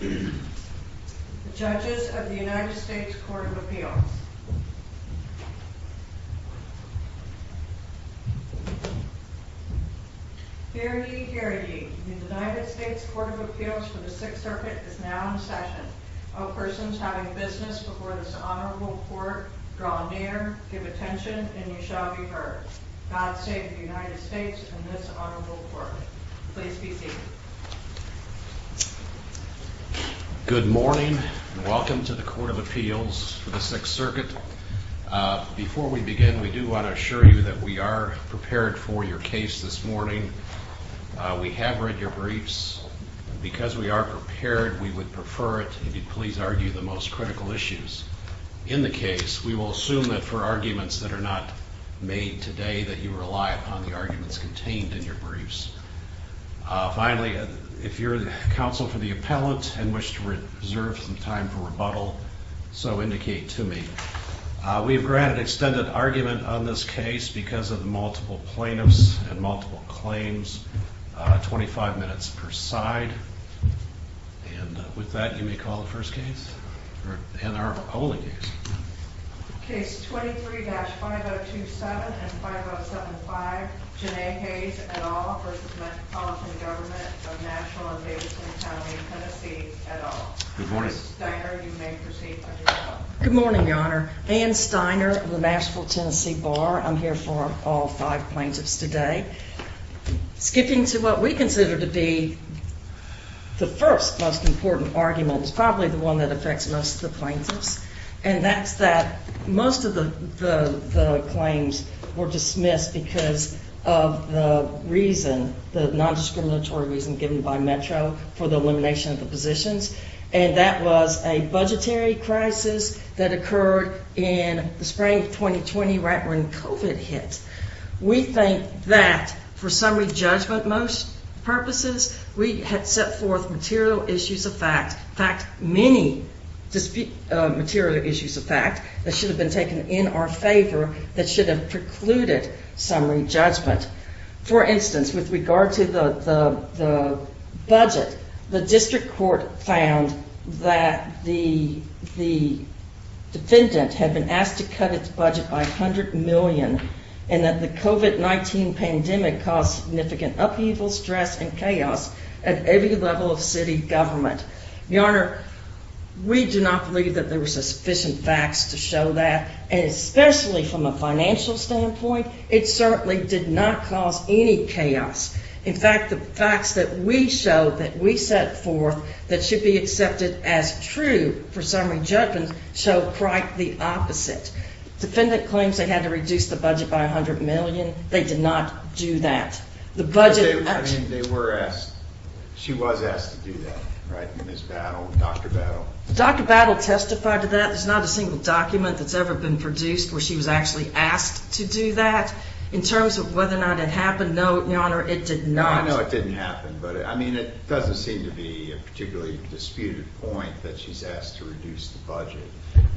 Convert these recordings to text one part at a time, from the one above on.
The Judges of the U.S. Court of Appeals Fair ye, fair ye. The United States Court of Appeals for the Sixth Circuit is now in session. All persons having business before this honorable court, draw near, give attention, and you shall be heard. God save the United States and this honorable court. Please be seated. Good morning. Welcome to the Court of Appeals for the Sixth Circuit. Before we begin, we do want to assure you that we are prepared for your case this morning. We have read your briefs. Because we are prepared, we would prefer it if you'd please argue the most critical issues in the case. We will assume that for arguments that are not made today that you rely upon the arguments contained in your briefs. Finally, if you're counsel for the appellant and wish to reserve some time for rebuttal, so indicate to me. We have granted extended argument on this case because of the multiple plaintiffs and multiple claims. 25 minutes per side. And with that, you may call the first case. Case 23-5027 and 5075, Janae Hayes et al. versus Metropolitan Government of Nashville and Davidson County, Tennessee et al. Good morning, Your Honor. Ann Steiner of the Nashville, Tennessee Bar. I'm here for all five plaintiffs today. Skipping to what we consider to be the first most important argument, probably the one that affects most of the plaintiffs, and that's that most of the claims were dismissed because of the reason, the nondiscriminatory reason given by Metro for the elimination of the positions. And that was a budgetary crisis that occurred in the spring of 2020 right when COVID hit. We think that for summary judgment purposes, we had set forth material issues of fact, in fact, many material issues of fact that should have been taken in our favor that should have precluded summary judgment. For instance, with regard to the budget, the district court found that the defendant had been asked to cut its budget by $100 million and that the COVID-19 pandemic caused significant upheaval, stress, and chaos at every level of city government. Your Honor, we do not believe that there was sufficient facts to show that, and especially from a financial standpoint, it certainly did not cause any chaos. In fact, the facts that we showed that we set forth that should be accepted as true for summary judgment show quite the opposite. Defendant claims they had to reduce the budget by $100 million. They did not do that. The budget— I mean, they were asked—she was asked to do that, right, Ms. Battle, Dr. Battle? Dr. Battle testified to that. There's not a single document that's ever been produced where she was actually asked to do that. In terms of whether or not it happened, no, Your Honor, it did not. No, I know it didn't happen, but, I mean, it doesn't seem to be a particularly disputed point that she's asked to reduce the budget.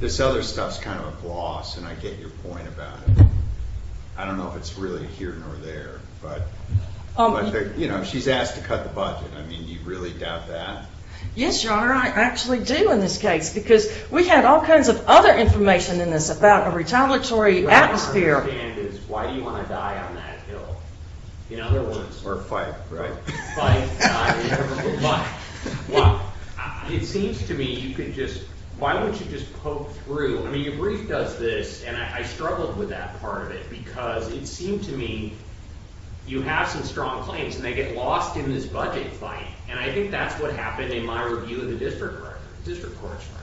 This other stuff's kind of a gloss, and I get your point about it. I don't know if it's really here nor there, but, you know, she's asked to cut the budget. I mean, do you really doubt that? Yes, Your Honor, I actually do in this case because we had all kinds of other information in this about a retaliatory atmosphere. What I don't understand is why do you want to die on that hill? In other words— Or fight, right? Fight. Fight. Well, it seems to me you could just—why don't you just poke through? I mean, your brief does this, and I struggled with that part of it because it seemed to me you have some strong claims, and they get lost in this budget fight, and I think that's what happened in my review of the district record, district court's record.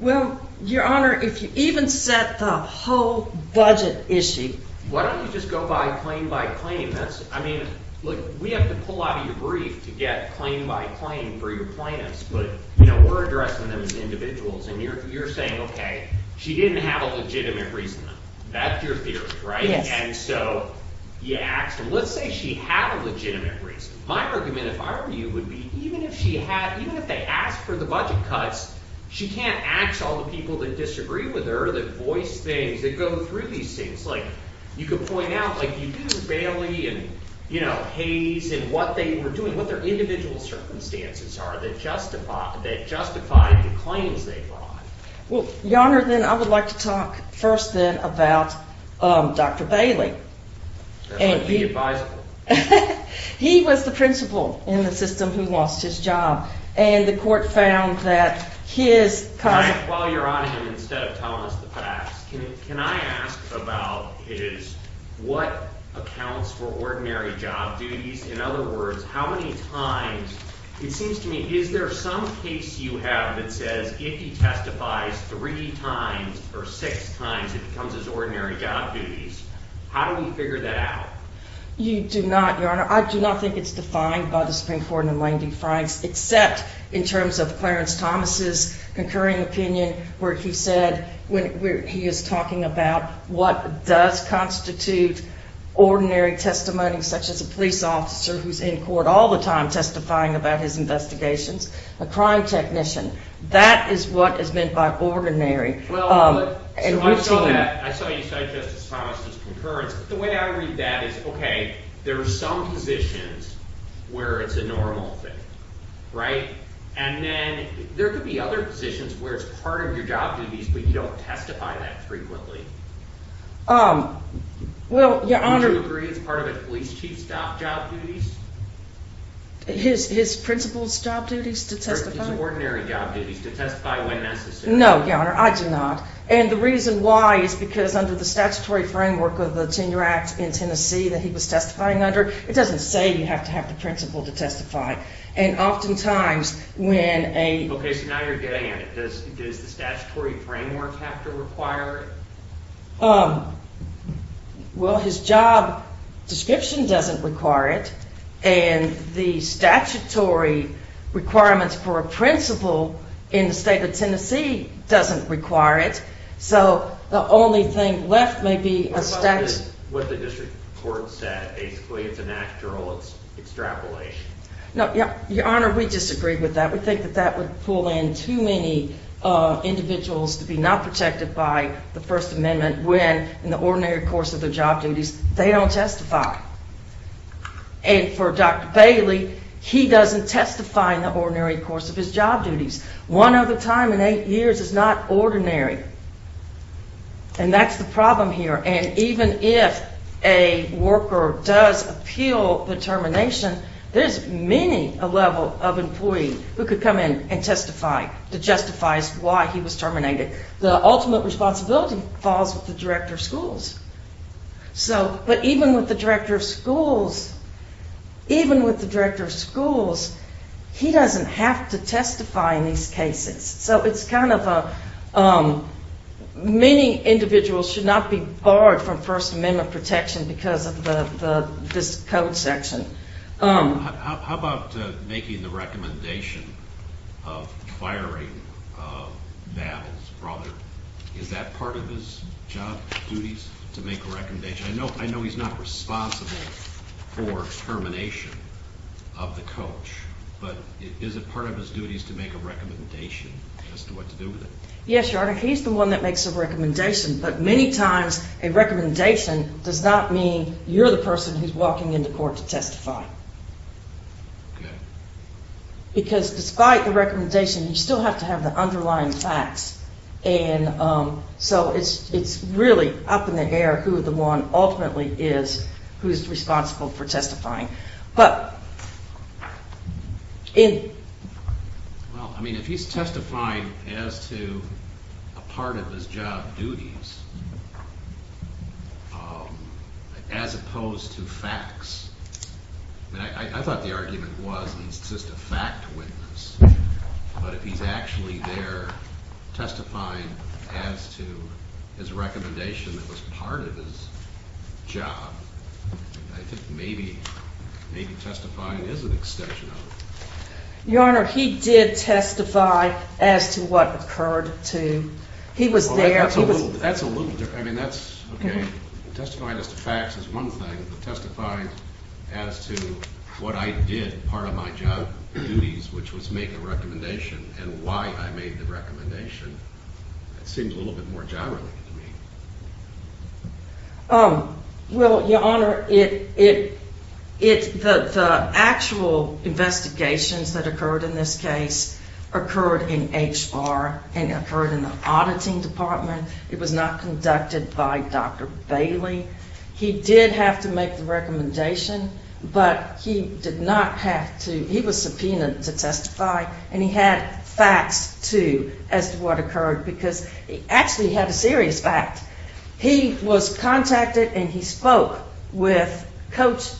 Well, Your Honor, if you even set the whole budget issue— Why don't you just go by claim by claim? That's—I mean, look, we have to pull out of your brief to get claim by claim for your plaintiffs, but, you know, we're addressing them as individuals, and you're saying, okay, she didn't have a legitimate reason. That's your theory, right? Yes. And so you asked them. Let's say she had a legitimate reason. My argument, if I were you, would be even if she had—even if they asked for the budget cuts, she can't ask all the people that disagree with her, that voice things, that go through these things. Like, you could point out, like, you did with Bailey and, you know, Hayes and what they were doing, what their individual circumstances are that justified the claims they brought. Well, Your Honor, then I would like to talk first, then, about Dr. Bailey. That might be advisable. He was the principal in the system who lost his job, and the court found that his cause of— While you're on him, instead of telling us the facts, can I ask about his—what accounts for ordinary job duties? In other words, how many times—it seems to me, is there some case you have that says if he testifies three times or six times, it becomes his ordinary job duties? How do we figure that out? You do not, Your Honor. I do not think it's defined by the Supreme Court in the Lane v. Franks, except in terms of Clarence Thomas' concurring opinion where he said—where he is talking about what does constitute ordinary testimony, such as a police officer who's in court all the time testifying about his investigations, a crime technician. That is what is meant by ordinary. Well, I saw that. I saw you cite Justice Thomas' concurrence, but the way I read that is, okay, there are some positions where it's a normal thing, right? And then there could be other positions where it's part of your job duties, but you don't testify that frequently. Well, Your Honor— Would you agree it's part of a police chief's job duties? His principal's job duties to testify? Or his ordinary job duties to testify when necessary. No, Your Honor, I do not. And the reason why is because under the statutory framework of the Tenure Act in Tennessee that he was testifying under, it doesn't say you have to have the principal to testify. And oftentimes when a— Okay, so now you're getting at it. Does the statutory framework have to require it? Well, his job description doesn't require it, and the statutory requirements for a principal in the state of Tennessee doesn't require it. So the only thing left may be a statute— What the district court said, basically, it's an actual extrapolation. No, Your Honor, we disagree with that. We think that that would pull in too many individuals to be not protected by the First Amendment when in the ordinary course of their job duties they don't testify. And for Dr. Bailey, he doesn't testify in the ordinary course of his job duties. One other time in eight years is not ordinary. And that's the problem here. And even if a worker does appeal the termination, there's many a level of employee who could come in and testify that justifies why he was terminated. The ultimate responsibility falls with the director of schools. But even with the director of schools, even with the director of schools, he doesn't have to testify in these cases. So it's kind of a—many individuals should not be barred from First Amendment protection because of this code section. How about making the recommendation of firing Val's brother? Is that part of his job duties to make a recommendation? I know he's not responsible for termination of the coach, but is it part of his duties to make a recommendation as to what to do with it? Yes, Your Honor. He's the one that makes the recommendation. But many times a recommendation does not mean you're the person who's walking into court to testify. Okay. Because despite the recommendation, you still have to have the underlying facts. And so it's really up in the air who the one ultimately is who's responsible for testifying. Well, I mean, if he's testifying as to a part of his job duties as opposed to facts, I thought the argument was he's just a fact witness. But if he's actually there testifying as to his recommendation that was part of his job, I think maybe testifying is an extension of it. Your Honor, he did testify as to what occurred to—he was there— That's a little different. I mean, that's—okay, testifying as to facts is one thing, but testifying as to what I did, part of my job duties, which was make a recommendation, and why I made the recommendation, it seems a little bit more job-related to me. Well, Your Honor, the actual investigations that occurred in this case occurred in HBAR and occurred in the auditing department. It was not conducted by Dr. Bailey. He did have to make the recommendation, but he did not have to—he was subpoenaed to testify, and he had facts, too, as to what occurred because he actually had a serious fact. He was contacted and he spoke with Coach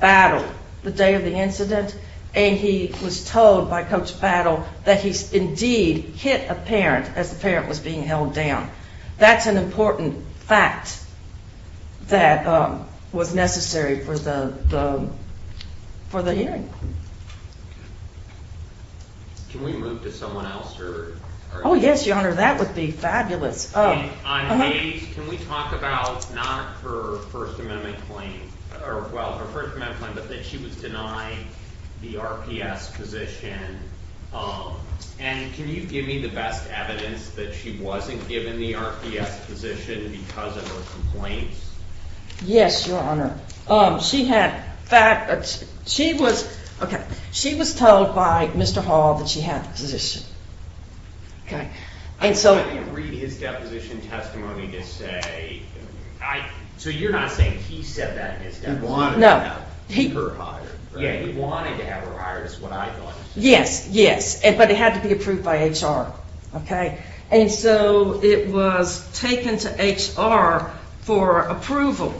Battle the day of the incident, and he was told by Coach Battle that he indeed hit a parent as the parent was being held down. That's an important fact that was necessary for the hearing. Can we move to someone else? Oh, yes, Your Honor, that would be fabulous. On Hayes, can we talk about not her First Amendment claim—or, well, her First Amendment claim, but that she was denied the RPS position? And can you give me the best evidence that she wasn't given the RPS position because of her complaints? Yes, Your Honor. She had—she was—okay, she was told by Mr. Hall that she had the position. I read his deposition testimony to say—so you're not saying he said that in his deposition? No. He wanted to have her hired, right? He wanted to have her hired is what I thought. Yes, yes, but it had to be approved by HR, okay? And so it was taken to HR for approval.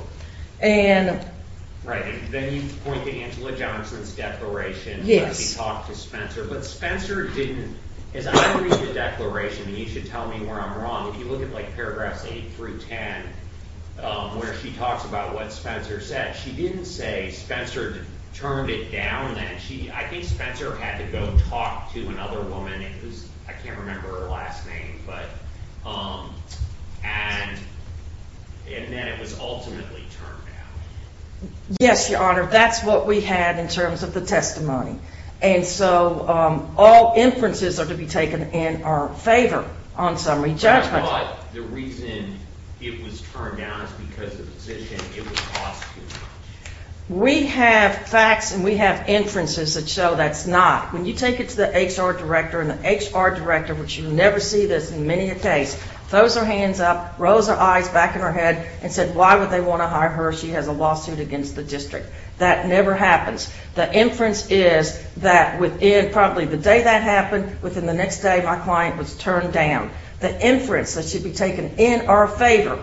Right, and then you point to Angela Johnson's declaration that she talked to Spencer, but Spencer didn't—as I read the declaration, and you should tell me where I'm wrong, if you look at, like, paragraphs 8 through 10, where she talks about what Spencer said, she didn't say Spencer turned it down, I think Spencer had to go talk to another woman—I can't remember her last name, but—and then it was ultimately turned down. Yes, Your Honor, that's what we had in terms of the testimony. And so all inferences are to be taken in our favor on summary judgment. But I thought the reason it was turned down is because the position, it was cost too much. We have facts and we have inferences that show that's not. When you take it to the HR director, and the HR director, which you never see this in many a case, throws her hands up, rolls her eyes back in her head, and said, why would they want to hire her? She has a lawsuit against the district. That never happens. The inference is that within probably the day that happened, within the next day, my client was turned down. The inference that should be taken in our favor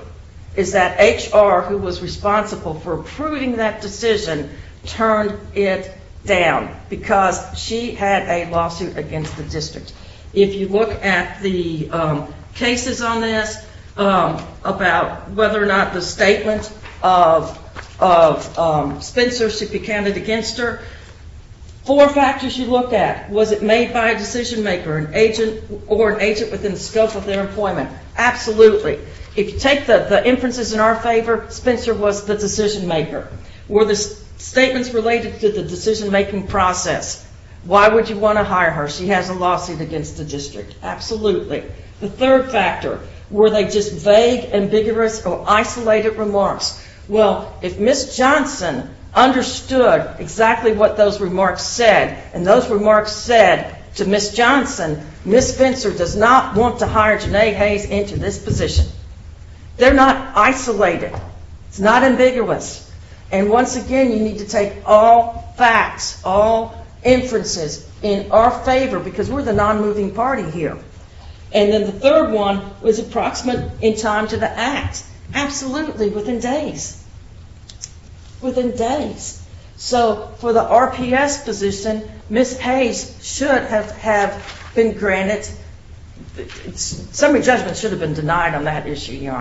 is that HR, who was responsible for approving that decision, turned it down because she had a lawsuit against the district. If you look at the cases on this about whether or not the statement of Spencer should be counted against her, four factors you look at. Was it made by a decision-maker, an agent, or an agent within the scope of their employment? Absolutely. If you take the inferences in our favor, Spencer was the decision-maker. Were the statements related to the decision-making process? Why would you want to hire her? She has a lawsuit against the district. Absolutely. The third factor, were they just vague, ambiguous, or isolated remarks? Well, if Ms. Johnson understood exactly what those remarks said, and those remarks said to Ms. Johnson, Ms. Spencer does not want to hire Janae Hayes into this position. They're not isolated. It's not ambiguous. And once again, you need to take all facts, all inferences in our favor because we're the non-moving party here. And then the third one, was it proximate in time to the act? Absolutely, within days. Within days. So, for the RPS position, Ms. Hayes should have been granted, summary judgment should have been denied on that issue, Your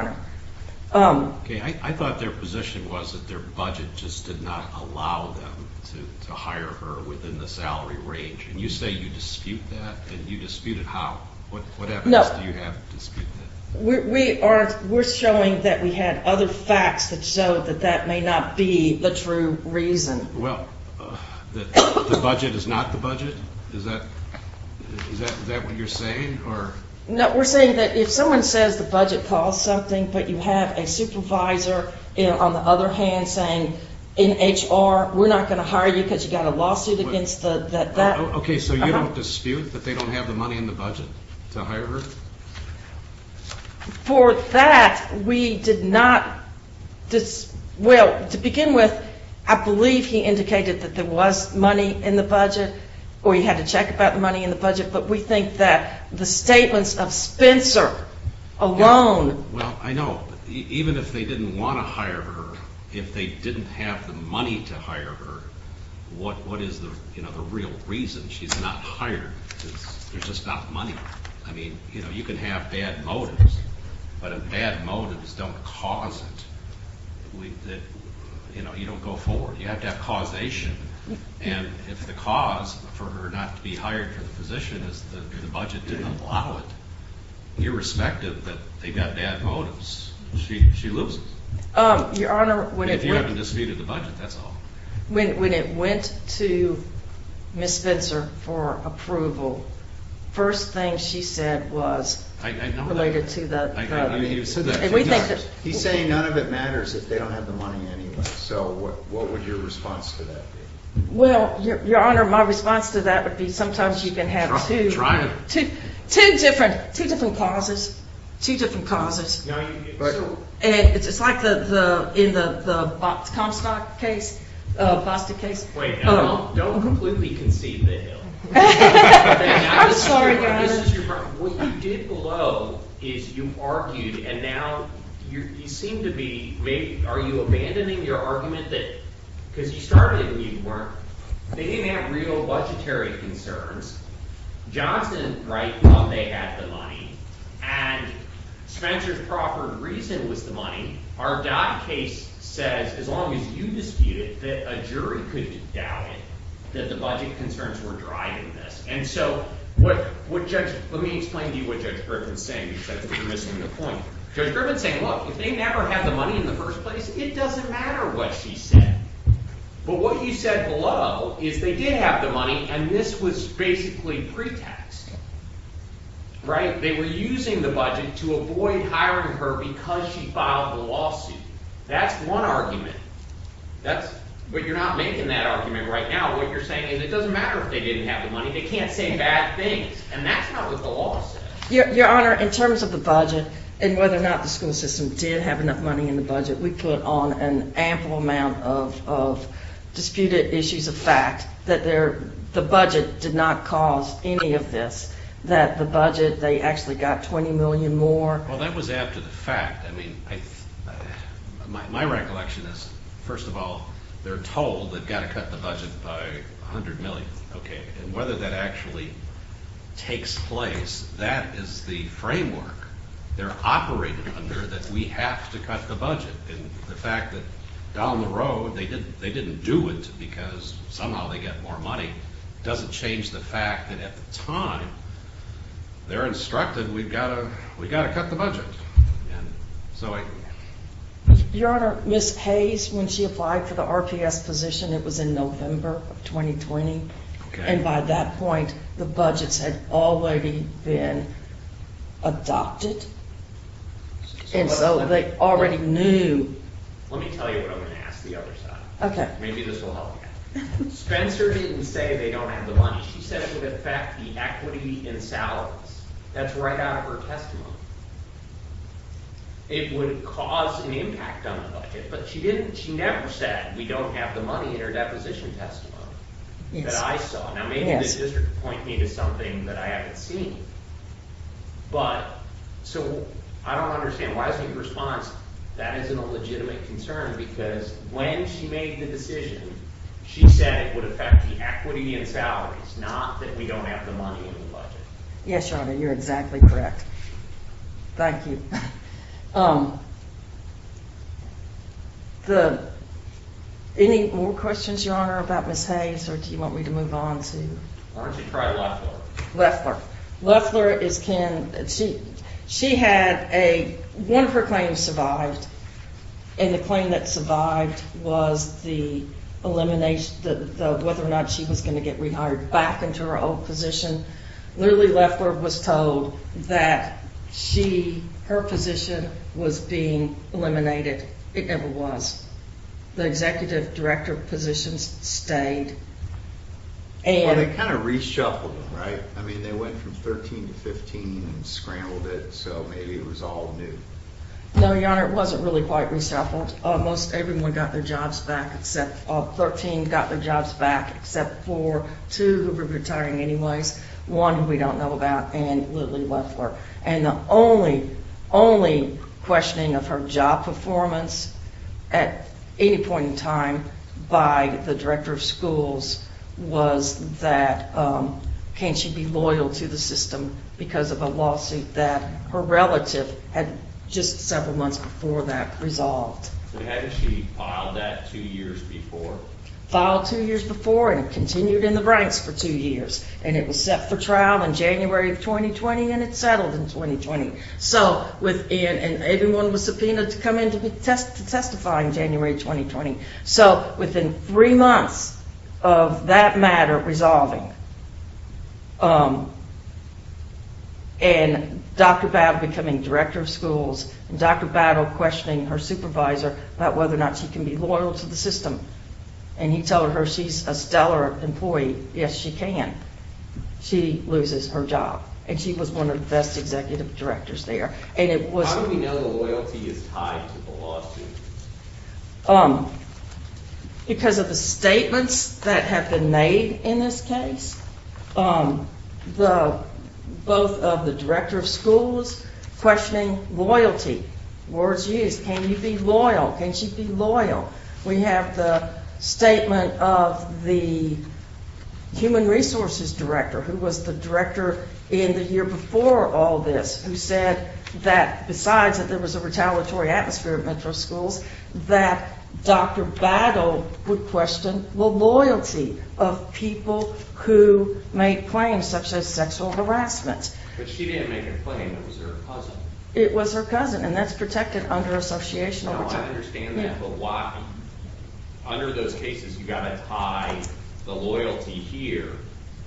Honor. Okay, I thought their position was that their budget just did not allow them to hire her within the salary range. And you say you dispute that? And you disputed how? What evidence do you have to dispute that? We're showing that we had other facts that showed that that may not be the true reason. Well, the budget is not the budget? Is that what you're saying? No, we're saying that if someone says the budget caused something, but you have a supervisor on the other hand saying, in HR, we're not going to hire you because you got a lawsuit against that. Okay, so you don't dispute that they don't have the money in the budget to hire her? For that, we did not, well, to begin with, I believe he indicated that there was money in the budget, or he had to check about the money in the budget, but we think that the statements of Spencer alone. Well, I know, even if they didn't want to hire her, if they didn't have the money to hire her, what is the real reason she's not hired? Because there's just not money. I mean, you know, you can have bad motives, but if bad motives don't cause it, you know, you don't go forward. You have to have causation, and if the cause for her not to be hired for the position is that the budget didn't allow it, irrespective that they've got bad motives, she loses. Your Honor, when it went... If you haven't disputed the budget, that's all. When it went to Ms. Spencer for approval, first thing she said was... I know that. ...related to the... I know you said that. And we think that... He's saying none of it matters if they don't have the money anyway, so what would your response to that be? Well, Your Honor, my response to that would be sometimes you can have two... Try it. Two different causes, two different causes. It's like in the Comstock case, Bostick case. Wait, now don't completely concede the hill. I'm sorry, Your Honor. What you did below is you argued, and now you seem to be maybe... Are you abandoning your argument that because you started it and you weren't... They didn't have real budgetary concerns. Johnson, right, thought they had the money. And Spencer's proper reason was the money. Our Dodd case says, as long as you dispute it, that a jury could doubt it, that the budget concerns were driving this. And so what Judge... Let me explain to you what Judge Griffin's saying, because I think you're missing the point. Judge Griffin's saying, look, if they never had the money in the first place, it doesn't matter what she said. But what you said below is they did have the money, and this was basically pre-taxed. Right? They were using the budget to avoid hiring her because she filed the lawsuit. That's one argument. That's... But you're not making that argument right now. What you're saying is it doesn't matter if they didn't have the money. They can't say bad things, and that's not what the law says. Your Honor, in terms of the budget and whether or not the school system did have enough money in the budget, we put on an ample amount of disputed issues of fact that the budget did not cause any of this, that the budget, they actually got $20 million more. Well, that was after the fact. I mean, my recollection is, first of all, they're told they've got to cut the budget by $100 million, okay? And whether that actually takes place, that is the framework they're operating under that we have to cut the budget. And the fact that down the road they didn't do it because somehow they get more money doesn't change the fact that at the time they're instructed we've got to cut the budget. And so I... Your Honor, Ms. Hayes, when she applied for the RPS position, it was in November of 2020. Okay. And by that point, the budgets had already been adopted. And so they already knew... Let me tell you what I'm going to ask the other side. Maybe this will help you. Spencer didn't say they don't have the money. She said it would affect the equity in salaries. That's right out of her testimony. It would cause an impact on the budget. But she didn't, she never said we don't have the money in her deposition testimony that I saw. Now, maybe the district would point me to something that I haven't seen. But... So, I don't understand. Why isn't your response that isn't a legitimate concern? Because when she made the decision, she said it would affect the equity in salaries, not that we don't have the money in the budget. Yes, Your Honor. You're exactly correct. Thank you. Any more questions, Your Honor, about Ms. Hayes? Or do you want me to move on to... Why don't you try Loeffler? Loeffler. Loeffler is Ken... She had a... One of her claims survived. And the claim that survived was the elimination, whether or not she was going to get rehired back into her old position. Literally, Loeffler was told that she, her position was being eliminated. It never was. The executive director position stayed. Well, they kind of reshuffled it, right? I mean, they went from 13 to 15 and scrambled it, so maybe it was all new. No, Your Honor, it wasn't really quite reshuffled. Most everyone got their jobs back except... 13 got their jobs back except for two who were retiring anyways, one who we don't know about, and Lily Loeffler. And the only, only questioning of her job performance at any point in time by the director of schools was that can she be loyal to the system because of a lawsuit that her relative had just several months before that resolved. So hadn't she filed that two years before? Filed two years before and continued in the ranks for two years. And it was set for trial in January of 2020 and it settled in 2020. So within... And everyone was subpoenaed to come in to testify in January of 2020. So within three months of that matter resolving and Dr. Battle becoming director of schools and Dr. Battle questioning her supervisor about whether or not she can be loyal to the system and he told her she's a stellar employee. Yes, she can. She loses her job. And she was one of the best executive directors there. And it was... How do you know loyalty is tied to the lawsuit? Because of the statements that have been made in this case. Both of the director of schools questioning loyalty. Words used. Can you be loyal? Can she be loyal? We have the statement of the human resources director who was the director in the year before all this who said that besides that there was a retaliatory atmosphere at metro schools that Dr. Battle would question the loyalty of people who made claims such as sexual harassment. But she didn't make a claim. It was her cousin. It was her cousin. And that's protected under associational protection. No, I understand that. But why? Under those cases you've got to tie the loyalty here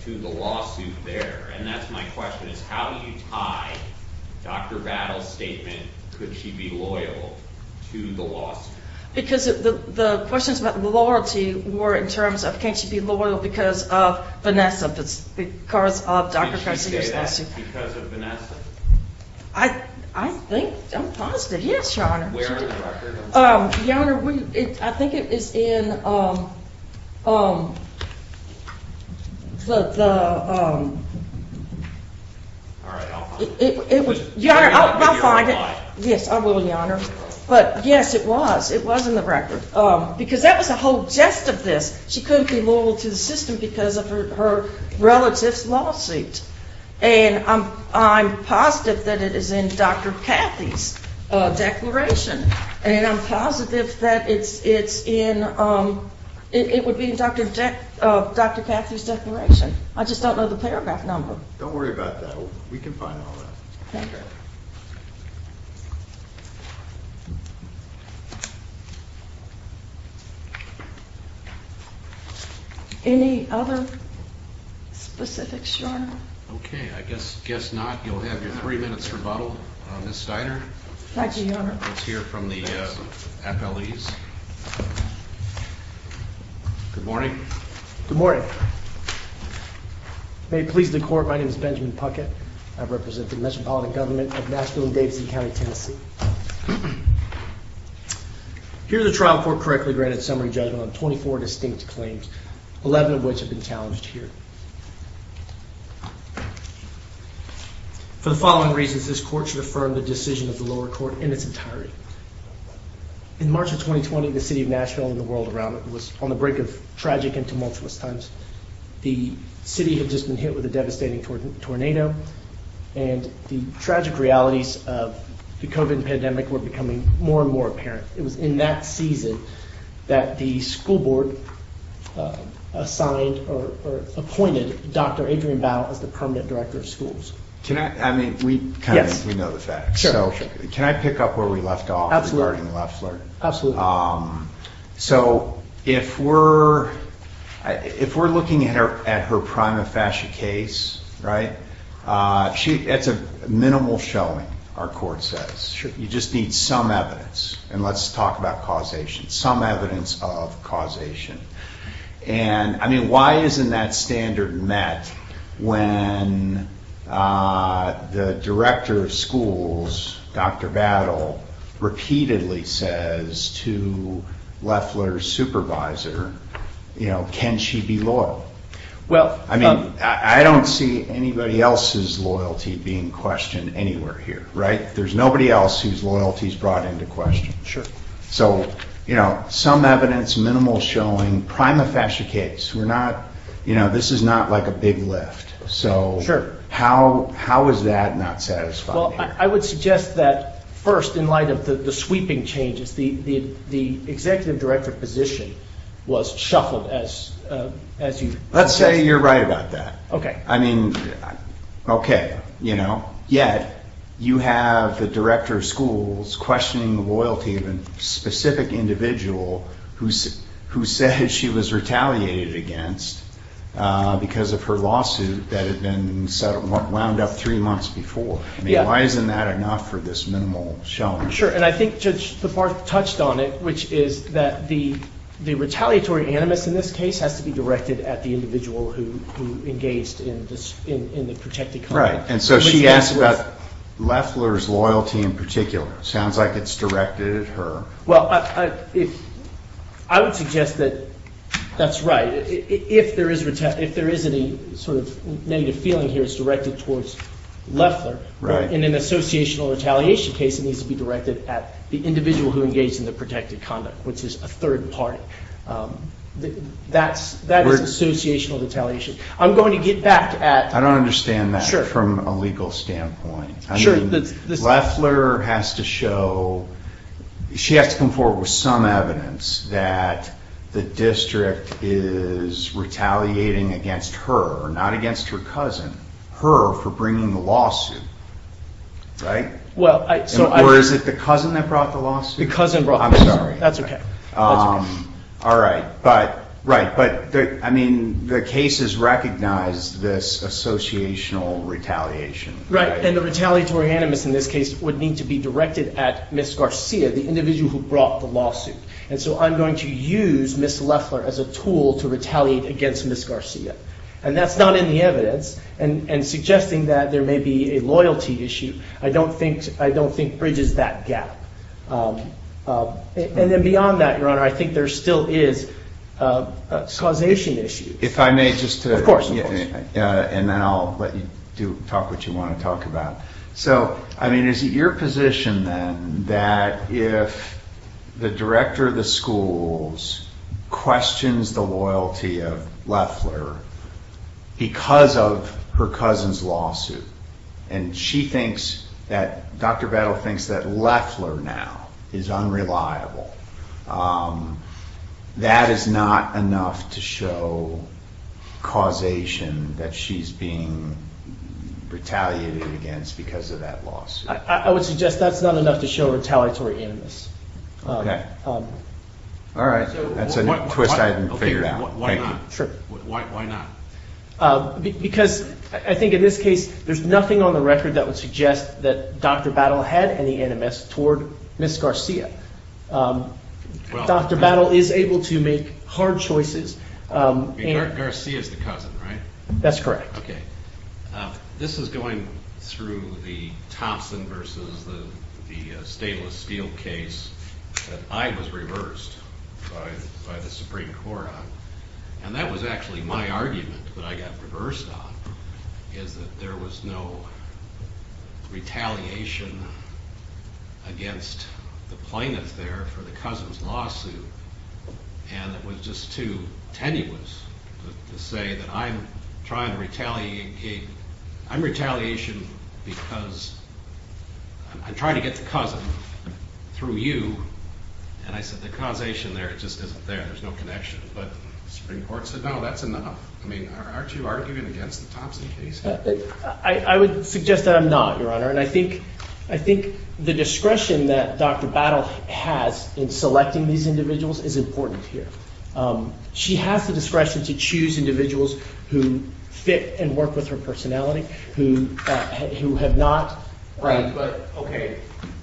to the lawsuit there. And that's my question is how do you tie Dr. Battle's statement could she be loyal to the lawsuit? Because the questions about loyalty were in terms of can she be loyal because of Vanessa, because of Dr. Cressida's lawsuit. Can she say that because of Vanessa? I think I'm positive. Yes, Your Honor. Where are the records? Your Honor, I think it is in the – Your Honor, I'll find it. Yes, I will, Your Honor. But, yes, it was. It was in the record. Because that was the whole gist of this. She couldn't be loyal to the system because of her relative's lawsuit. And I'm positive that it is in Dr. Cathy's declaration. I just don't know the paragraph number. Don't worry about that. We can find all that. Okay. Any other specifics, Your Honor? Okay. I guess not. You'll have your three minutes rebuttal, Ms. Steiner. Thank you, Your Honor. Let's hear from the appellees. Good morning. Good morning. May it please the Court, my name is Benjamin Puckett. I represent the Metropolitan Government of Nashville and Davidson County, Tennessee. Here the trial court correctly granted summary judgment on 24 distinct claims, 11 of which have been challenged here. For the following reasons, this court should affirm the decision of the lower court in its entirety. In March of 2020, the city of Nashville and the world around it was on the brink of tragic and tumultuous times. The city had just been hit with a devastating tornado. And the tragic realities of the COVID pandemic were becoming more and more apparent. It was in that season that the school board assigned or appointed Dr. Adrian Bow as the permanent director of schools. Can I, I mean, we kind of know the facts. Can I pick up where we left off? So if we're looking at her prima facie case, right, it's a minimal showing, our court says. You just need some evidence and let's talk about causation, some evidence of causation. And I mean, why isn't that standard met when the director of schools, Dr. Battle, repeatedly says to Leffler's supervisor, you know, can she be loyal? Well, I mean, I don't see anybody else's loyalty being questioned anywhere here, right? There's nobody else whose loyalty is brought into question. So, you know, some evidence, minimal showing, prima facie case. We're not, you know, this is not like a big lift. So how is that not satisfying? Well, I would suggest that first, in light of the sweeping changes, the executive director position was shuffled as you. Let's say you're right about that. Okay. I mean, okay, you know, yet you have the director of schools questioning the loyalty of a specific individual who said she was retaliated against because of her lawsuit that had been wound up three months before. I mean, why isn't that enough for this minimal showing? Sure, and I think Judge DeParth touched on it, which is that the retaliatory animus in this case has to be directed at the individual who engaged in the protected conduct. Right, and so she asked about Leffler's loyalty in particular. It sounds like it's directed at her. Well, I would suggest that that's right. If there is any sort of negative feeling here, it's directed towards Leffler. In an associational retaliation case, it needs to be directed at the individual who engaged in the protected conduct, which is a third party. That is associational retaliation. I'm going to get back at. I don't understand that from a legal standpoint. I mean, Leffler has to show, she has to come forward with some evidence that the district is retaliating against her, not against her cousin, her for bringing the lawsuit, right? Or is it the cousin that brought the lawsuit? The cousin brought the lawsuit. I'm sorry. That's okay. All right, but, right, but I mean, the case has recognized this associational retaliation. Right, and the retaliatory animus in this case would need to be directed at Ms. Garcia, the individual who brought the lawsuit. And so I'm going to use Ms. Leffler as a tool to retaliate against Ms. Garcia. And that's not in the evidence. And suggesting that there may be a loyalty issue, I don't think bridges that gap. And then beyond that, Your Honor, I think there still is causation issues. If I may just, and then I'll let you talk what you want to talk about. So, I mean, is it your position, then, that if the director of the schools questions the loyalty of Leffler because of her cousin's lawsuit, and she thinks that, Dr. Bettle thinks that Leffler now is unreliable, that is not enough to show causation that she's being retaliated against because of that lawsuit? I would suggest that's not enough to show retaliatory animus. Okay. All right. That's a twist I haven't figured out. Why not? Sure. Why not? Because I think in this case, there's nothing on the record that would suggest that Dr. Battle had any animus toward Ms. Garcia. Dr. Battle is able to make hard choices. Garcia is the cousin, right? That's correct. Okay. This is going through the Thompson versus the Stainless Steel case that I was reversed by the Supreme Court on. And that was actually my argument that I got reversed on, is that there was no retaliation against the plaintiff there for the cousin's lawsuit. And it was just too tenuous to say that I'm trying to retaliate. I'm retaliating because I'm trying to get the cousin through you. And I said the causation there just isn't there. There's no connection. But the Supreme Court said, no, that's enough. I mean, aren't you arguing against the Thompson case? I would suggest that I'm not, Your Honor. And I think the discretion that Dr. Battle has in selecting these individuals is important here. She has the discretion to choose individuals who fit and work with her personality, who have not. Right. Okay.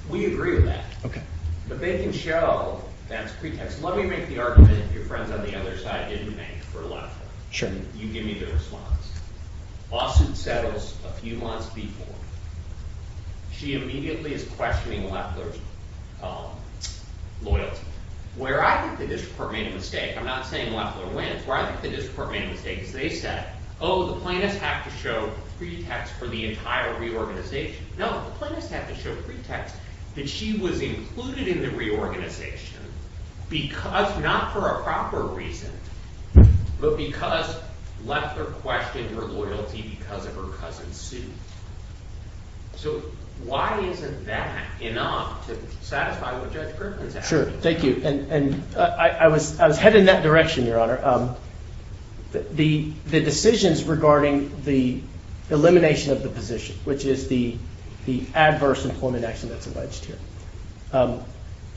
We agree with that. Okay. But they can show that's pretext. Let me make the argument that your friends on the other side didn't make for Loeffler. Sure. You give me the response. Lawsuit settles a few months before. She immediately is questioning Loeffler's loyalty. Where I think the district court made a mistake, I'm not saying Loeffler wins. Where I think the district court made a mistake is they said, oh, the plaintiffs have to show pretext for the entire reorganization. No, the plaintiffs have to show pretext that she was included in the reorganization because, not for a proper reason, but because Loeffler questioned her loyalty because of her cousin Sue. So why isn't that enough to satisfy what Judge Griffin's asking? Sure. Thank you. And I was headed in that direction, Your Honor. The decisions regarding the elimination of the position, which is the adverse employment action that's alleged here,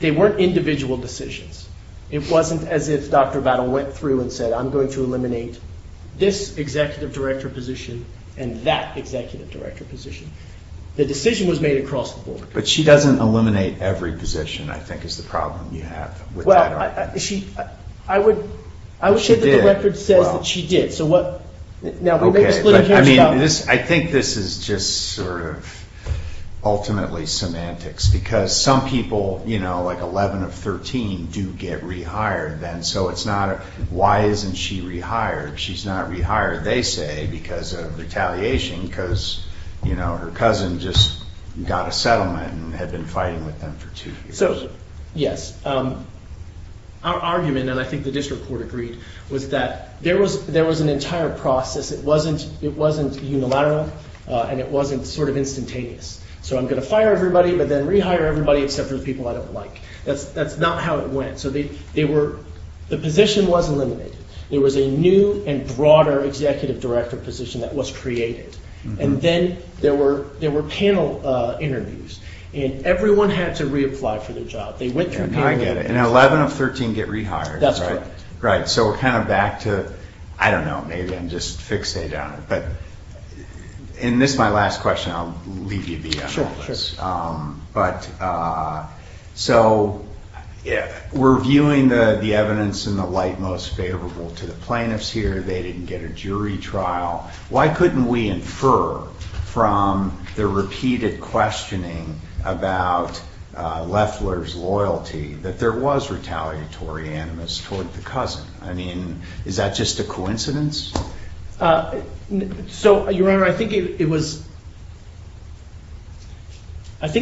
they weren't individual decisions. It wasn't as if Dr. Battle went through and said, I'm going to eliminate this executive director position and that executive director position. The decision was made across the board. But she doesn't eliminate every position, I think, is the problem you have with that argument. I would say that the record says that she did. I think this is just sort of ultimately semantics because some people, like 11 of 13, do get rehired then. So why isn't she rehired? She's not rehired, they say, because of retaliation because her cousin just got a settlement and had been fighting with them for two years. So, yes, our argument, and I think the district court agreed, was that there was an entire process. It wasn't unilateral and it wasn't sort of instantaneous. So I'm going to fire everybody but then rehire everybody except for the people I don't like. That's not how it went. So the position was eliminated. There was a new and broader executive director position that was created. And then there were panel interviews. And everyone had to reapply for their job. I get it. And 11 of 13 get rehired. That's right. Right. So we're kind of back to, I don't know, maybe I'm just fixated on it. And this is my last question. I'll leave you be on all this. So we're viewing the evidence in the light most favorable to the plaintiffs here. They didn't get a jury trial. Why couldn't we infer from the repeated questioning about Loeffler's loyalty that there was retaliatory animus toward the cousin? I mean, is that just a coincidence? So, Your Honor, I think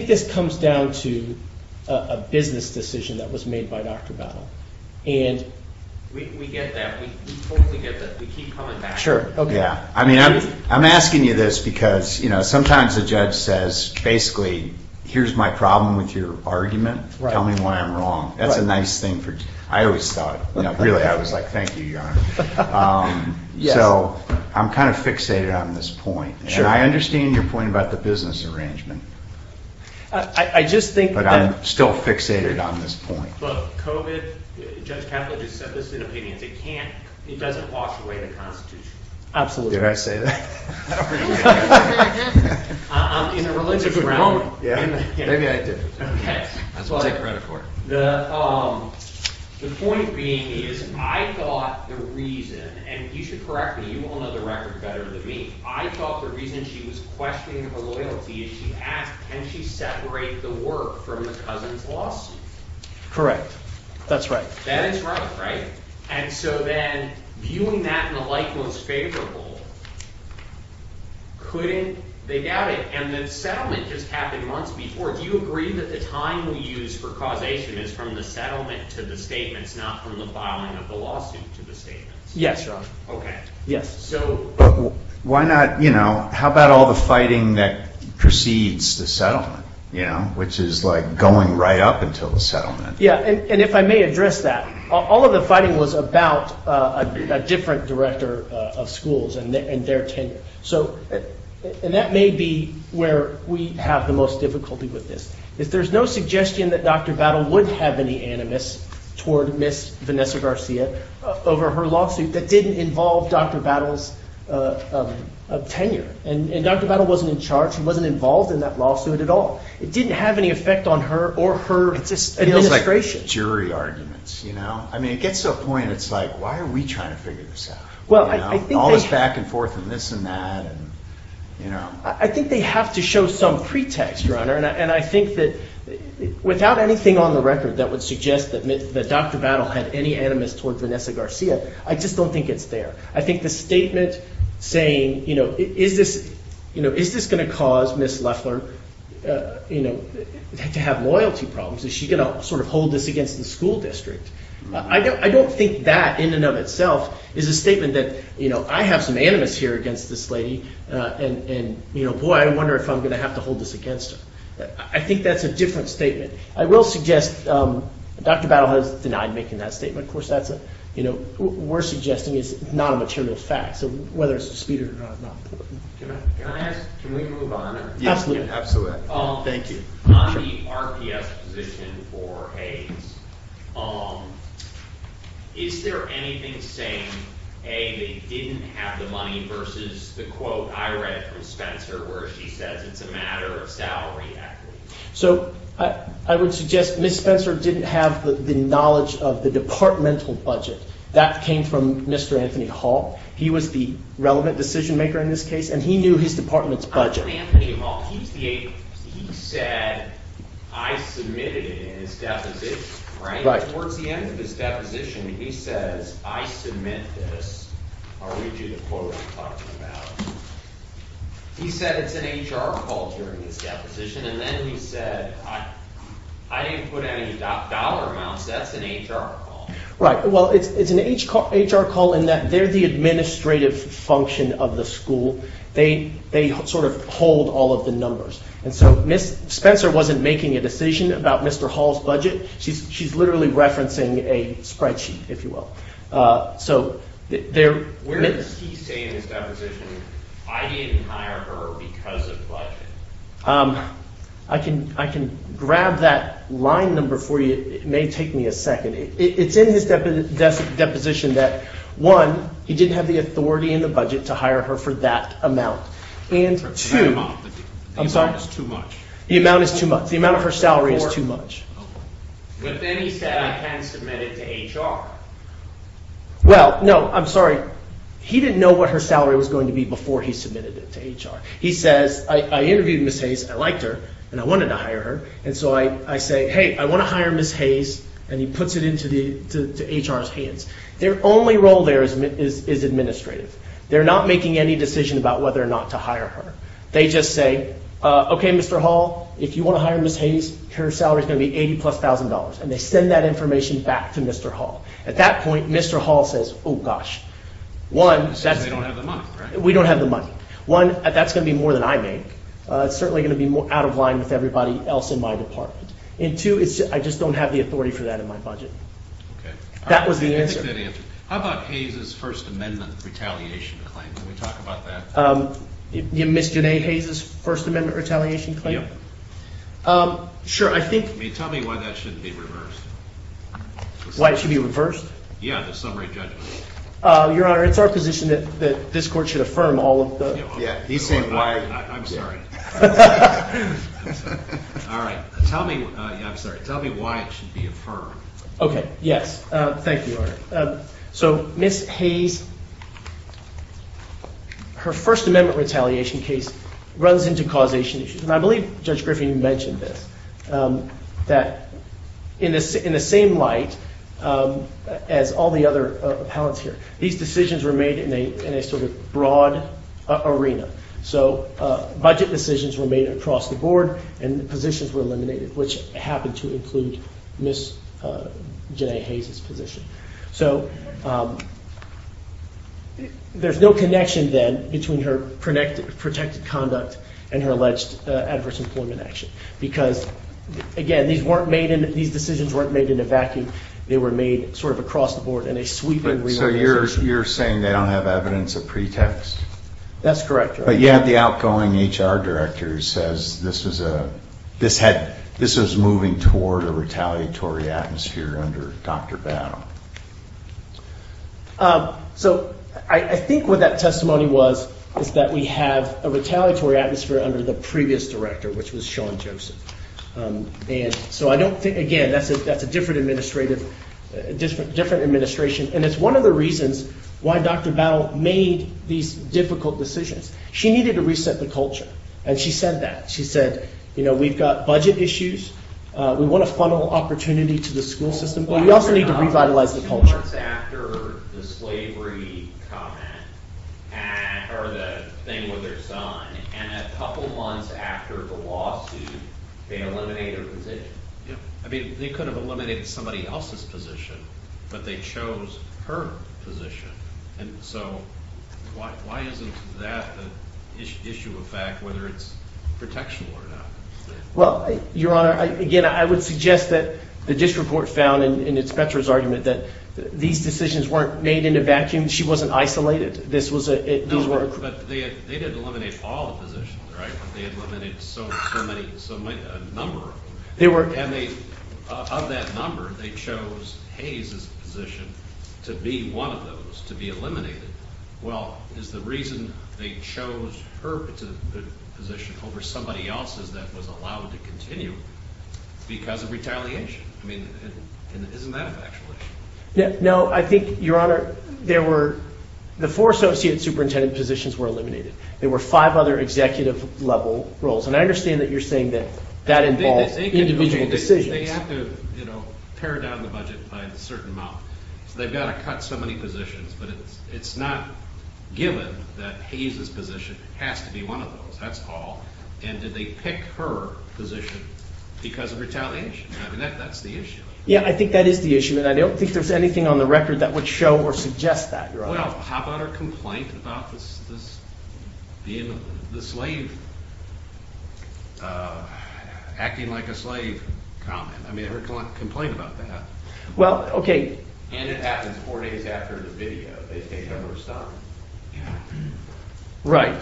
this comes down to a business decision that was made by Dr. Battle. We get that. We totally get that. We keep coming back. Sure. Yeah. I mean, I'm asking you this because, you know, sometimes the judge says, basically, here's my problem with your argument. Tell me why I'm wrong. That's a nice thing. I always thought, really, I was like, thank you, Your Honor. So I'm kind of fixated on this point. And I understand your point about the business arrangement. I just think that I'm still fixated on this point. But COVID, Judge Catlett just said this is an opinion. It can't, it doesn't wash away the Constitution. Absolutely. Did I say that? In a religious realm. Maybe I did. That's what I take credit for. The point being is, I thought the reason, and you should correct me, you all know the record better than me. I thought the reason she was questioning her loyalty is she asked, can she separate the work from the cousin's lawsuit? Correct. That's right. That is right, right? And so then, viewing that in a like most favorable, couldn't, they doubt it. And the settlement just happened months before. Do you agree that the time we use for causation is from the settlement to the statements, not from the filing of the lawsuit to the statements? Yes, Your Honor. Okay. Yes. Why not, you know, how about all the fighting that precedes the settlement, you know, which is like going right up until the settlement. Yeah. And if I may address that, all of the fighting was about a different director of schools and their tenure. So, and that may be where we have the most difficulty with this. If there's no suggestion that Dr. Battle would have any animus toward Ms. Vanessa Garcia over her lawsuit that didn't involve Dr. Battle's tenure. And Dr. Battle wasn't in charge. She wasn't involved in that lawsuit at all. It didn't have any effect on her or her administration. It feels like jury arguments, you know. I mean, it gets to a point, it's like, why are we trying to figure this out? Well, I think they. All this back and forth and this and that and, you know. I think they have to show some pretext, Your Honor. And I think that without anything on the record that would suggest that Dr. Battle had any animus toward Vanessa Garcia, I just don't think it's there. I think the statement saying, you know, is this, you know, is this going to cause Ms. Leffler, you know, to have loyalty problems? Is she going to sort of hold this against the school district? I don't think that in and of itself is a statement that, you know, I have some animus here against this lady. And, you know, boy, I wonder if I'm going to have to hold this against her. I think that's a different statement. I will suggest Dr. Battle has denied making that statement. Of course, that's a, you know, we're suggesting is not a material fact. So whether it's a dispute or not. Can I ask, can we move on? Absolutely. Thank you. On the RPS position for Hays, is there anything saying, A, they didn't have the money versus the quote I read from Spencer where she says it's a matter of salary equity? So I would suggest Ms. Spencer didn't have the knowledge of the departmental budget. That came from Mr. Anthony Hall. He was the relevant decision maker in this case, and he knew his department's budget. Mr. Anthony Hall, he said, I submitted it in his deposition, right? Towards the end of his deposition, he says, I submit this. I'll read you the quote I'm talking about. He said it's an HR call during his deposition, and then he said, I didn't put any dollar amounts. That's an HR call. Right. Well, it's an HR call in that they're the administrative function of the school. They sort of hold all of the numbers. And so Ms. Spencer wasn't making a decision about Mr. Hall's budget. She's literally referencing a spreadsheet, if you will. Where does he say in his deposition, I didn't hire her because of budget? I can grab that line number for you. It may take me a second. It's in his deposition that, one, he didn't have the authority in the budget to hire her for that amount. The amount is too much. The amount is too much. The amount of her salary is too much. But then he said, I can submit it to HR. Well, no, I'm sorry. He didn't know what her salary was going to be before he submitted it to HR. He says, I interviewed Ms. Hayes, I liked her, and I wanted to hire her. And so I say, hey, I want to hire Ms. Hayes, and he puts it into HR's hands. Their only role there is administrative. They're not making any decision about whether or not to hire her. They just say, okay, Mr. Hall, if you want to hire Ms. Hayes, her salary is going to be $80,000-plus. And they send that information back to Mr. Hall. At that point, Mr. Hall says, oh, gosh. One, we don't have the money. One, that's going to be more than I make. It's certainly going to be out of line with everybody else in my department. And two, I just don't have the authority for that in my budget. Okay. That was the answer. How about Hayes' First Amendment retaliation claim? Can we talk about that? You mean Ms. Janae Hayes' First Amendment retaliation claim? Yeah. Sure. Tell me why that shouldn't be reversed. Why it should be reversed? Yeah, the summary judgment. Your Honor, it's our position that this court should affirm all of the Yeah, he's saying why. I'm sorry. All right. Tell me, yeah, I'm sorry. Tell me why it should be affirmed. Okay. Yes. Thank you, Your Honor. So Ms. Hayes, her First Amendment retaliation case runs into causation issues. And I believe Judge Griffin mentioned this, that in the same light as all the other appellants here, these decisions were made in a sort of broad arena. So budget decisions were made across the board, and positions were eliminated, which happened to include Ms. Janae Hayes' position. So there's no connection, then, between her protected conduct and her alleged adverse employment action. Because, again, these decisions weren't made in a vacuum. They were made sort of across the board in a sweeping remuneration. So you're saying they don't have evidence of pretext? That's correct, Your Honor. But yet the outgoing HR director says this was moving toward a retaliatory atmosphere under Dr. Battle. So I think what that testimony was is that we have a retaliatory atmosphere under the previous director, which was Sean Joseph. And so I don't think, again, that's a different administration. And it's one of the reasons why Dr. Battle made these difficult decisions. She needed to reset the culture, and she said that. She said, you know, we've got budget issues, we want to funnel opportunity to the school system, but we also need to revitalize the culture. A couple months after the slavery comment, or the thing with her son, and a couple months after the lawsuit, they eliminate her position. I mean, they could have eliminated somebody else's position, but they chose her position. And so why isn't that the issue of fact, whether it's protection or not? Well, Your Honor, again, I would suggest that the district court found in its Petra's argument that these decisions weren't made in a vacuum. She wasn't isolated. No, but they didn't eliminate all the positions, right? But they eliminated so many, a number of them. And of that number, they chose Hayes's position to be one of those, to be eliminated. Well, is the reason they chose her position over somebody else's that was allowed to continue because of retaliation? I mean, isn't that a factual issue? No, I think, Your Honor, there were, the four associate superintendent positions were eliminated. There were five other executive-level roles. And I understand that you're saying that that involves individual decisions. They have to, you know, pare down the budget by a certain amount. So they've got to cut so many positions. But it's not given that Hayes's position has to be one of those. That's all. And did they pick her position because of retaliation? I mean, that's the issue. Yeah, I think that is the issue. And I don't think there's anything on the record that would show or suggest that, Your Honor. Well, how about her complaint about the slave, acting like a slave comment? I mean, her complaint about that. Well, okay. And it happens four days after the video. They take over her son. Right.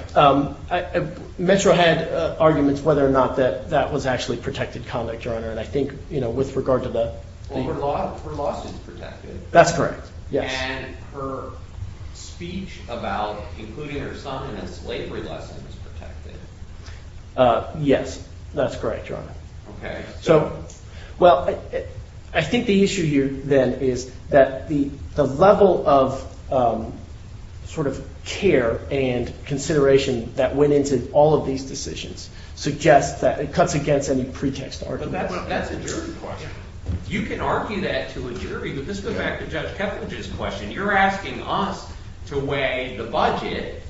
Metro had arguments whether or not that that was actually protected conduct, Your Honor. And I think, you know, with regard to the Well, her lawsuit is protected. That's correct, yes. And her speech about including her son in a slavery lesson is protected. Yes, that's correct, Your Honor. Okay. So, well, I think the issue here, then, is that the level of sort of care and consideration that went into all of these decisions suggests that it cuts against any pretext argument. But that's a jury question. You can argue that to a jury. But let's go back to Judge Keffridge's question. You're asking us to weigh the budget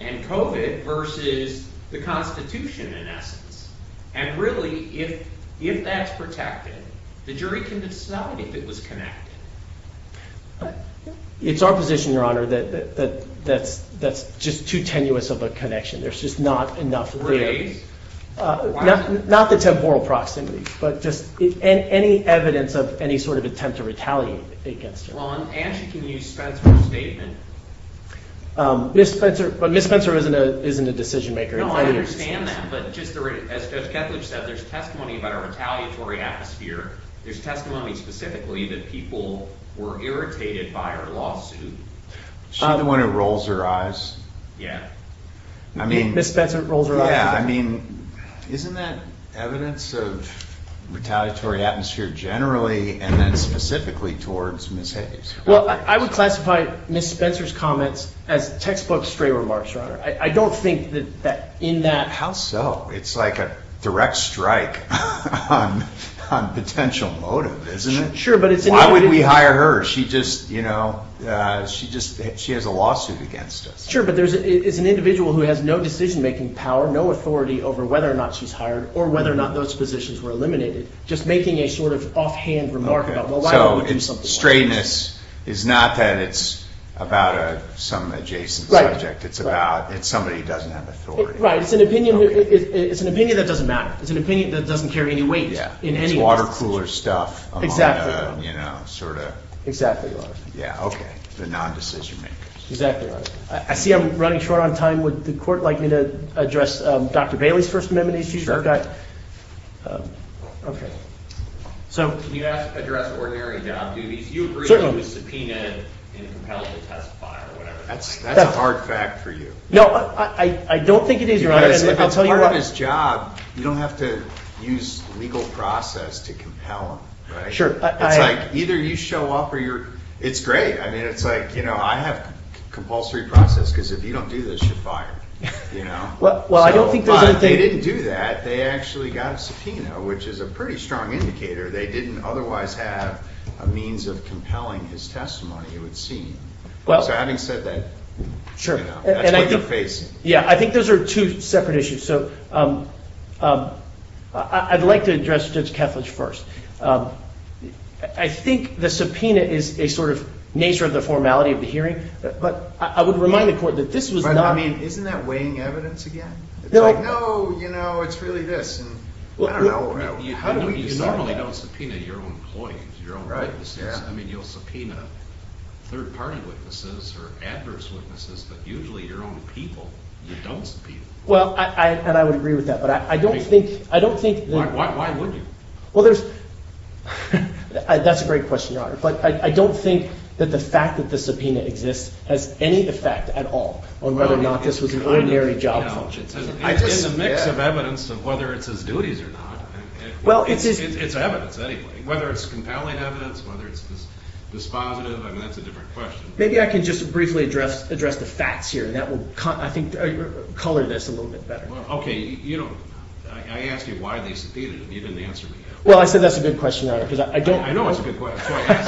and COVID versus the Constitution, in essence. And really, if that's protected, the jury can decide if it was connected. It's our position, Your Honor, that that's just too tenuous of a connection. There's just not enough there. Not the temporal proximity, but just any evidence of any sort of attempt to retaliate against her. Well, and she can use Spencer's statement. But Ms. Spencer isn't a decision maker. No, I understand that. But just as Judge Keffridge said, there's testimony about a retaliatory atmosphere. There's testimony specifically that people were irritated by her lawsuit. Is she the one who rolls her eyes? Yeah. Ms. Spencer rolls her eyes? Yeah. I mean, isn't that evidence of retaliatory atmosphere generally and then specifically towards Ms. Hayes? Well, I would classify Ms. Spencer's comments as textbook stray remarks, Your Honor. I don't think that in that— How so? It's like a direct strike on potential motive, isn't it? Sure, but it's— Why wouldn't we hire her? She just, you know, she has a lawsuit against us. Sure, but it's an individual who has no decision-making power, no authority over whether or not she's hired or whether or not those positions were eliminated. Just making a sort of offhand remark about, well, why don't we do something like this? It's not that it's about some adjacent subject. It's about—it's somebody who doesn't have authority. Right. It's an opinion that doesn't matter. It's an opinion that doesn't carry any weight in any of those decisions. It's water-cooler stuff among the, you know, sort of— Exactly, Your Honor. Yeah. Okay. The non-decision-makers. Exactly, Your Honor. I see I'm running short on time. Would the Court like me to address Dr. Bailey's First Amendment issue? Sure. Okay. So— Certainly. That's a hard fact for you. No, I don't think it is, Your Honor. Because if it's part of his job, you don't have to use legal process to compel him, right? Sure. It's like either you show up or you're—it's great. I mean, it's like, you know, I have compulsory process because if you don't do this, you're fired, you know? Well, I don't think there's anything— But they didn't do that. They actually got a subpoena, which is a pretty strong indicator. They didn't otherwise have a means of compelling his testimony, it would seem. Well— So having said that, you know, that's what you're facing. Yeah, I think those are two separate issues. So I'd like to address Judge Kethledge first. I think the subpoena is a sort of nature of the formality of the hearing, but I would remind the Court that this was not— But, I mean, isn't that weighing evidence again? No. It's like, no, you know, it's really this, and I don't know. You normally don't subpoena your own employees, your own witnesses. I mean, you'll subpoena third-party witnesses or adverse witnesses, but usually your own people you don't subpoena. Well, and I would agree with that, but I don't think— Why would you? Well, there's—that's a great question, Your Honor. But I don't think that the fact that the subpoena exists has any effect at all on whether or not this was an ordinary job function. It's in the mix of evidence of whether it's his duties or not. It's evidence anyway. Whether it's compelling evidence, whether it's dispositive, I mean, that's a different question. Maybe I can just briefly address the facts here, and that will, I think, color this a little bit better. Okay, you know, I asked you why they subpoenaed him. You didn't answer me. Well, I said that's a good question, Your Honor, because I don't know— I know it's a good question, that's why I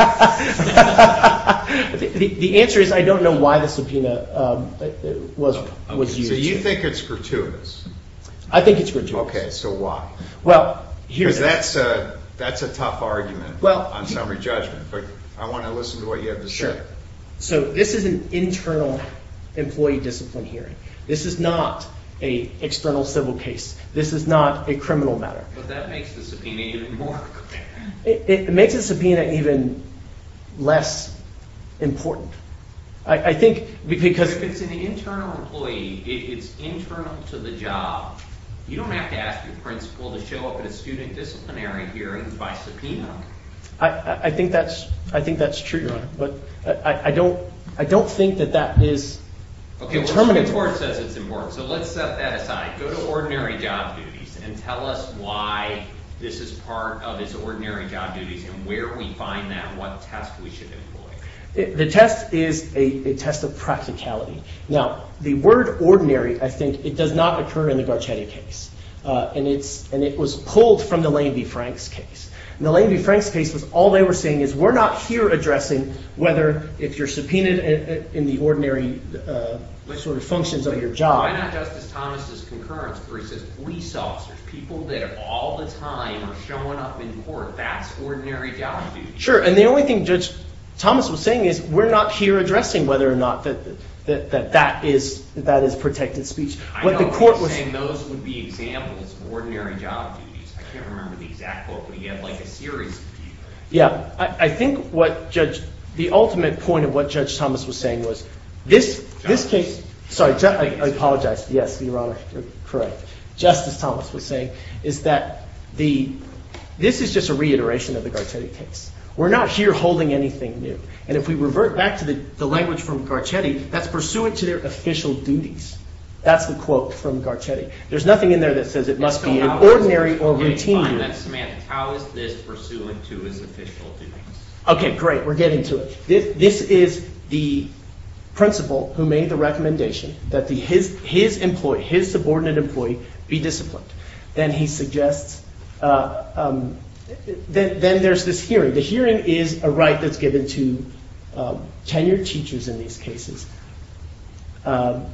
asked. The answer is I don't know why the subpoena was used. So you think it's gratuitous? I think it's gratuitous. Okay, so why? Well, here's— Because that's a tough argument on summary judgment, but I want to listen to what you have to say. So this is an internal employee discipline hearing. This is not an external civil case. This is not a criminal matter. But that makes the subpoena even more— It makes the subpoena even less important. I think because— But if it's an internal employee, it's internal to the job, you don't have to ask your principal to show up at a student disciplinary hearing by subpoena. I think that's true, Your Honor, but I don't think that that is— Okay, well the Supreme Court says it's important, so let's set that aside. Go to ordinary job duties and tell us why this is part of his ordinary job duties and where we find that and what test we should employ. The test is a test of practicality. Now, the word ordinary, I think, it does not occur in the Garcetti case, and it was pulled from the Lane v. Franks case. In the Lane v. Franks case, all they were saying is we're not here addressing whether if you're subpoenaed in the ordinary sort of functions of your job— Why not Justice Thomas's concurrence where he says police officers, people that all the time are showing up in court, that's ordinary job duties? Sure, and the only thing Judge Thomas was saying is we're not here addressing whether or not that that is protected speech. I know he was saying those would be examples of ordinary job duties. I can't remember the exact quote, but he had like a series of these. Yeah, I think what Judge—the ultimate point of what Judge Thomas was saying was this case—I apologize, yes, Your Honor, you're correct. Justice Thomas was saying is that this is just a reiteration of the Garcetti case. We're not here holding anything new, and if we revert back to the language from Garcetti, that's pursuant to their official duties. That's the quote from Garcetti. There's nothing in there that says it must be an ordinary or routine— Okay, fine, that's semantics. How is this pursuant to his official duties? Okay, great, we're getting to it. This is the principal who made the recommendation that his employee, his subordinate employee, be disciplined. Then he suggests—then there's this hearing. The hearing is a right that's given to tenured teachers in these cases, and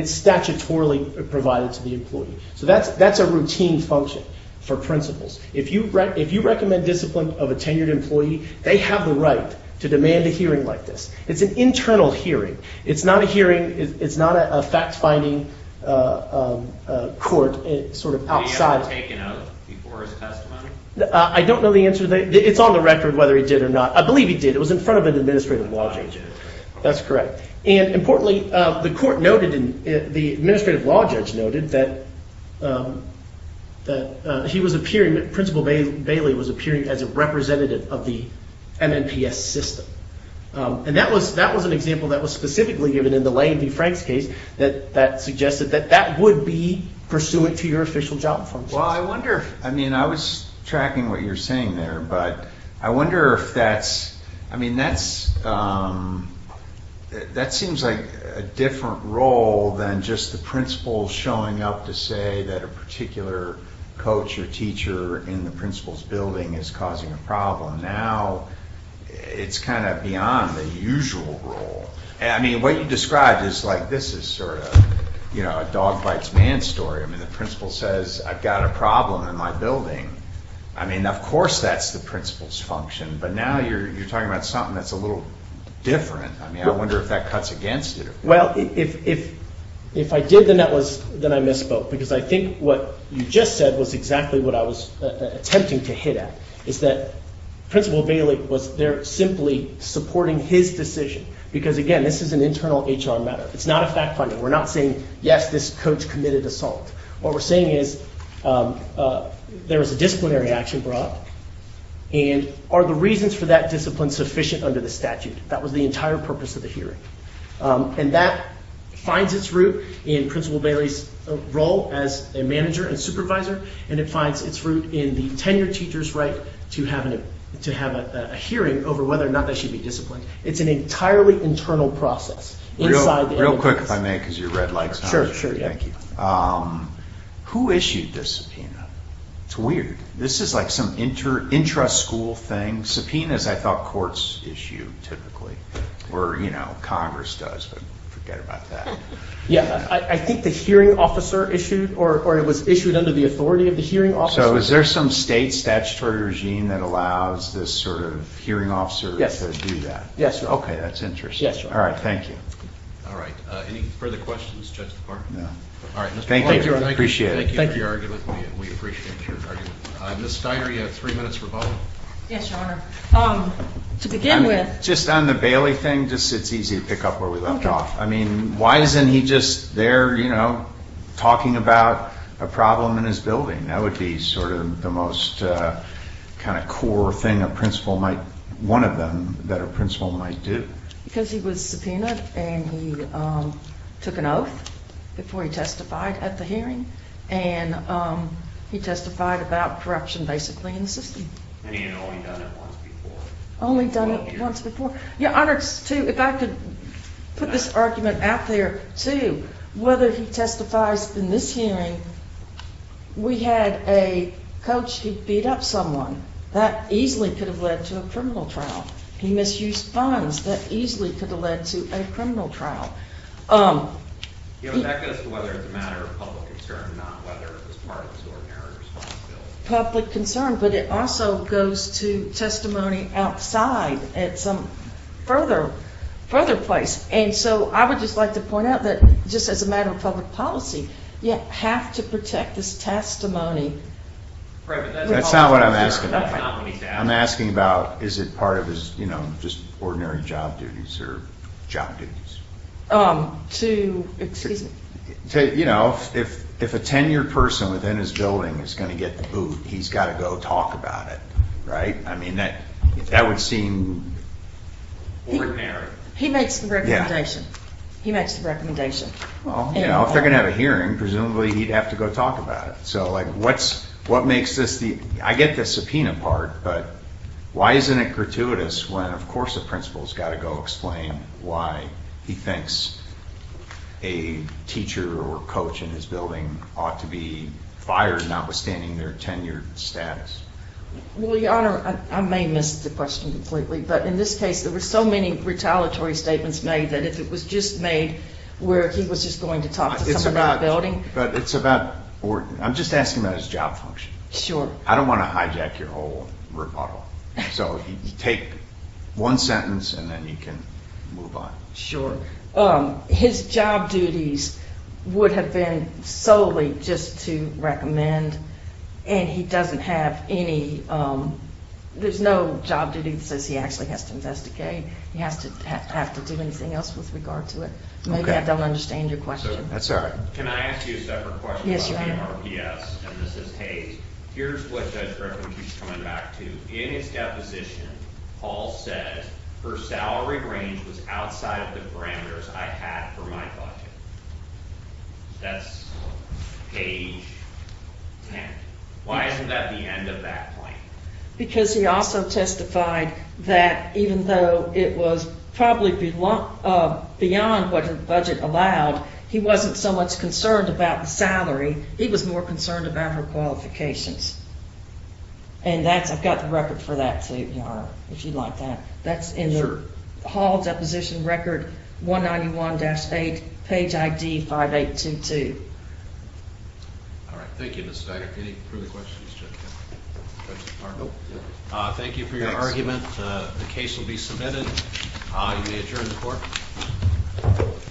it's statutorily provided to the employee. So that's a routine function for principals. If you recommend discipline of a tenured employee, they have the right to demand a hearing like this. It's an internal hearing. It's not a hearing. It's not a fact-finding court. It's sort of outside— Did he have it taken out before his testimony? I don't know the answer to that. It's on the record whether he did or not. I believe he did. It was in front of an administrative law judge. That's correct. And importantly, the court noted, and the administrative law judge noted, that he was appearing—Principal Bailey was appearing as a representative of the MNPS system. And that was an example that was specifically given in the Lane v. Franks case that suggested that that would be pursuant to your official job functions. Well, I wonder if—I mean, I was tracking what you were saying there, but I wonder if that's—I mean, that seems like a different role than just the principal showing up to say that a particular coach or teacher in the principal's building is causing a problem. Now it's kind of beyond the usual role. I mean, what you described is like this is sort of a dog bites man story. I mean, the principal says, I've got a problem in my building. I mean, of course that's the principal's function, but now you're talking about something that's a little different. I mean, I wonder if that cuts against it. Well, if I did, then I misspoke, because I think what you just said was exactly what I was attempting to hit at, is that Principal Bailey was there simply supporting his decision, because, again, this is an internal HR matter. It's not a fact finding. We're not saying, yes, this coach committed assault. What we're saying is there was a disciplinary action brought, and are the reasons for that discipline sufficient under the statute? That was the entire purpose of the hearing. And that finds its root in Principal Bailey's role as a manager and supervisor, and it finds its root in the tenured teacher's right to have a hearing over whether or not they should be disciplined. It's an entirely internal process. Real quick, if I may, because your red light's not on. Sure, sure. Thank you. Who issued this subpoena? It's weird. This is like some intra-school thing. Subpoenas, I thought, courts issue typically, or, you know, Congress does, but forget about that. Yeah, I think the hearing officer issued, or it was issued under the authority of the hearing officer. So is there some state statutory regime that allows this sort of hearing officer to do that? Yes, sir. Okay, that's interesting. Yes, sir. All right, thank you. All right. Any further questions, Judge DeParle? No. All right. Thank you. Thank you, Your Honor. We appreciate it. Thank you for your argument. We appreciate your argument. Ms. Steiner, you have three minutes for follow-up. Yes, Your Honor. To begin with. Just on the Bailey thing, it's easy to pick up where we left off. I mean, why isn't he just there, you know, talking about a problem in his building? That would be sort of the most kind of core thing a principal might, one of them that a principal might do. Because he was subpoenaed and he took an oath before he testified at the hearing, and he testified about corruption basically in the system. And he had only done it once before. Only done it once before. Your Honor, if I could put this argument out there, too, whether he testifies in this hearing, we had a coach who beat up someone. That easily could have led to a criminal trial. He misused funds. That easily could have led to a criminal trial. Yeah, but that goes to whether it's a matter of public concern, not whether it was part of the extraordinary response bill. Public concern. But it also goes to testimony outside at some further place. And so I would just like to point out that just as a matter of public policy, you have to protect this testimony. That's not what I'm asking about. I'm asking about is it part of his, you know, just ordinary job duties or job duties. To, excuse me. You know, if a tenured person within his building is going to get the boot, he's got to go talk about it, right? I mean, that would seem ordinary. He makes the recommendation. He makes the recommendation. Well, you know, if they're going to have a hearing, presumably he'd have to go talk about it. So, like, what makes this the, I get the subpoena part, but why isn't it gratuitous when, of course, the principal's got to go explain why he thinks a teacher or coach in his building ought to be fired notwithstanding their tenured status? Well, Your Honor, I may miss the question completely, but in this case there were so many retaliatory statements made that if it was just made where he was just going to talk to someone in the building. But it's about Orton. I'm just asking about his job function. Sure. I don't want to hijack your whole rebuttal. So take one sentence and then you can move on. Sure. His job duties would have been solely just to recommend, and he doesn't have any, there's no job duty that says he actually has to investigate. He has to have to do anything else with regard to it. Maybe I don't understand your question. That's all right. Can I ask you a separate question about the RPS? And this is Hayes. Here's what Judge Brevin keeps coming back to. In his deposition, Paul said, her salary range was outside of the parameters I had for my budget. That's page 10. Why isn't that the end of that point? Because he also testified that even though it was probably beyond what the budget allowed, he wasn't so much concerned about the salary, he was more concerned about her qualifications. And that's, I've got the record for that, too, Your Honor, if you'd like that. That's in the Hall deposition record, 191-8, page ID 5822. All right. Thank you, Ms. Steigert. Any further questions? Thank you for your argument. The case will be submitted. You may adjourn the court.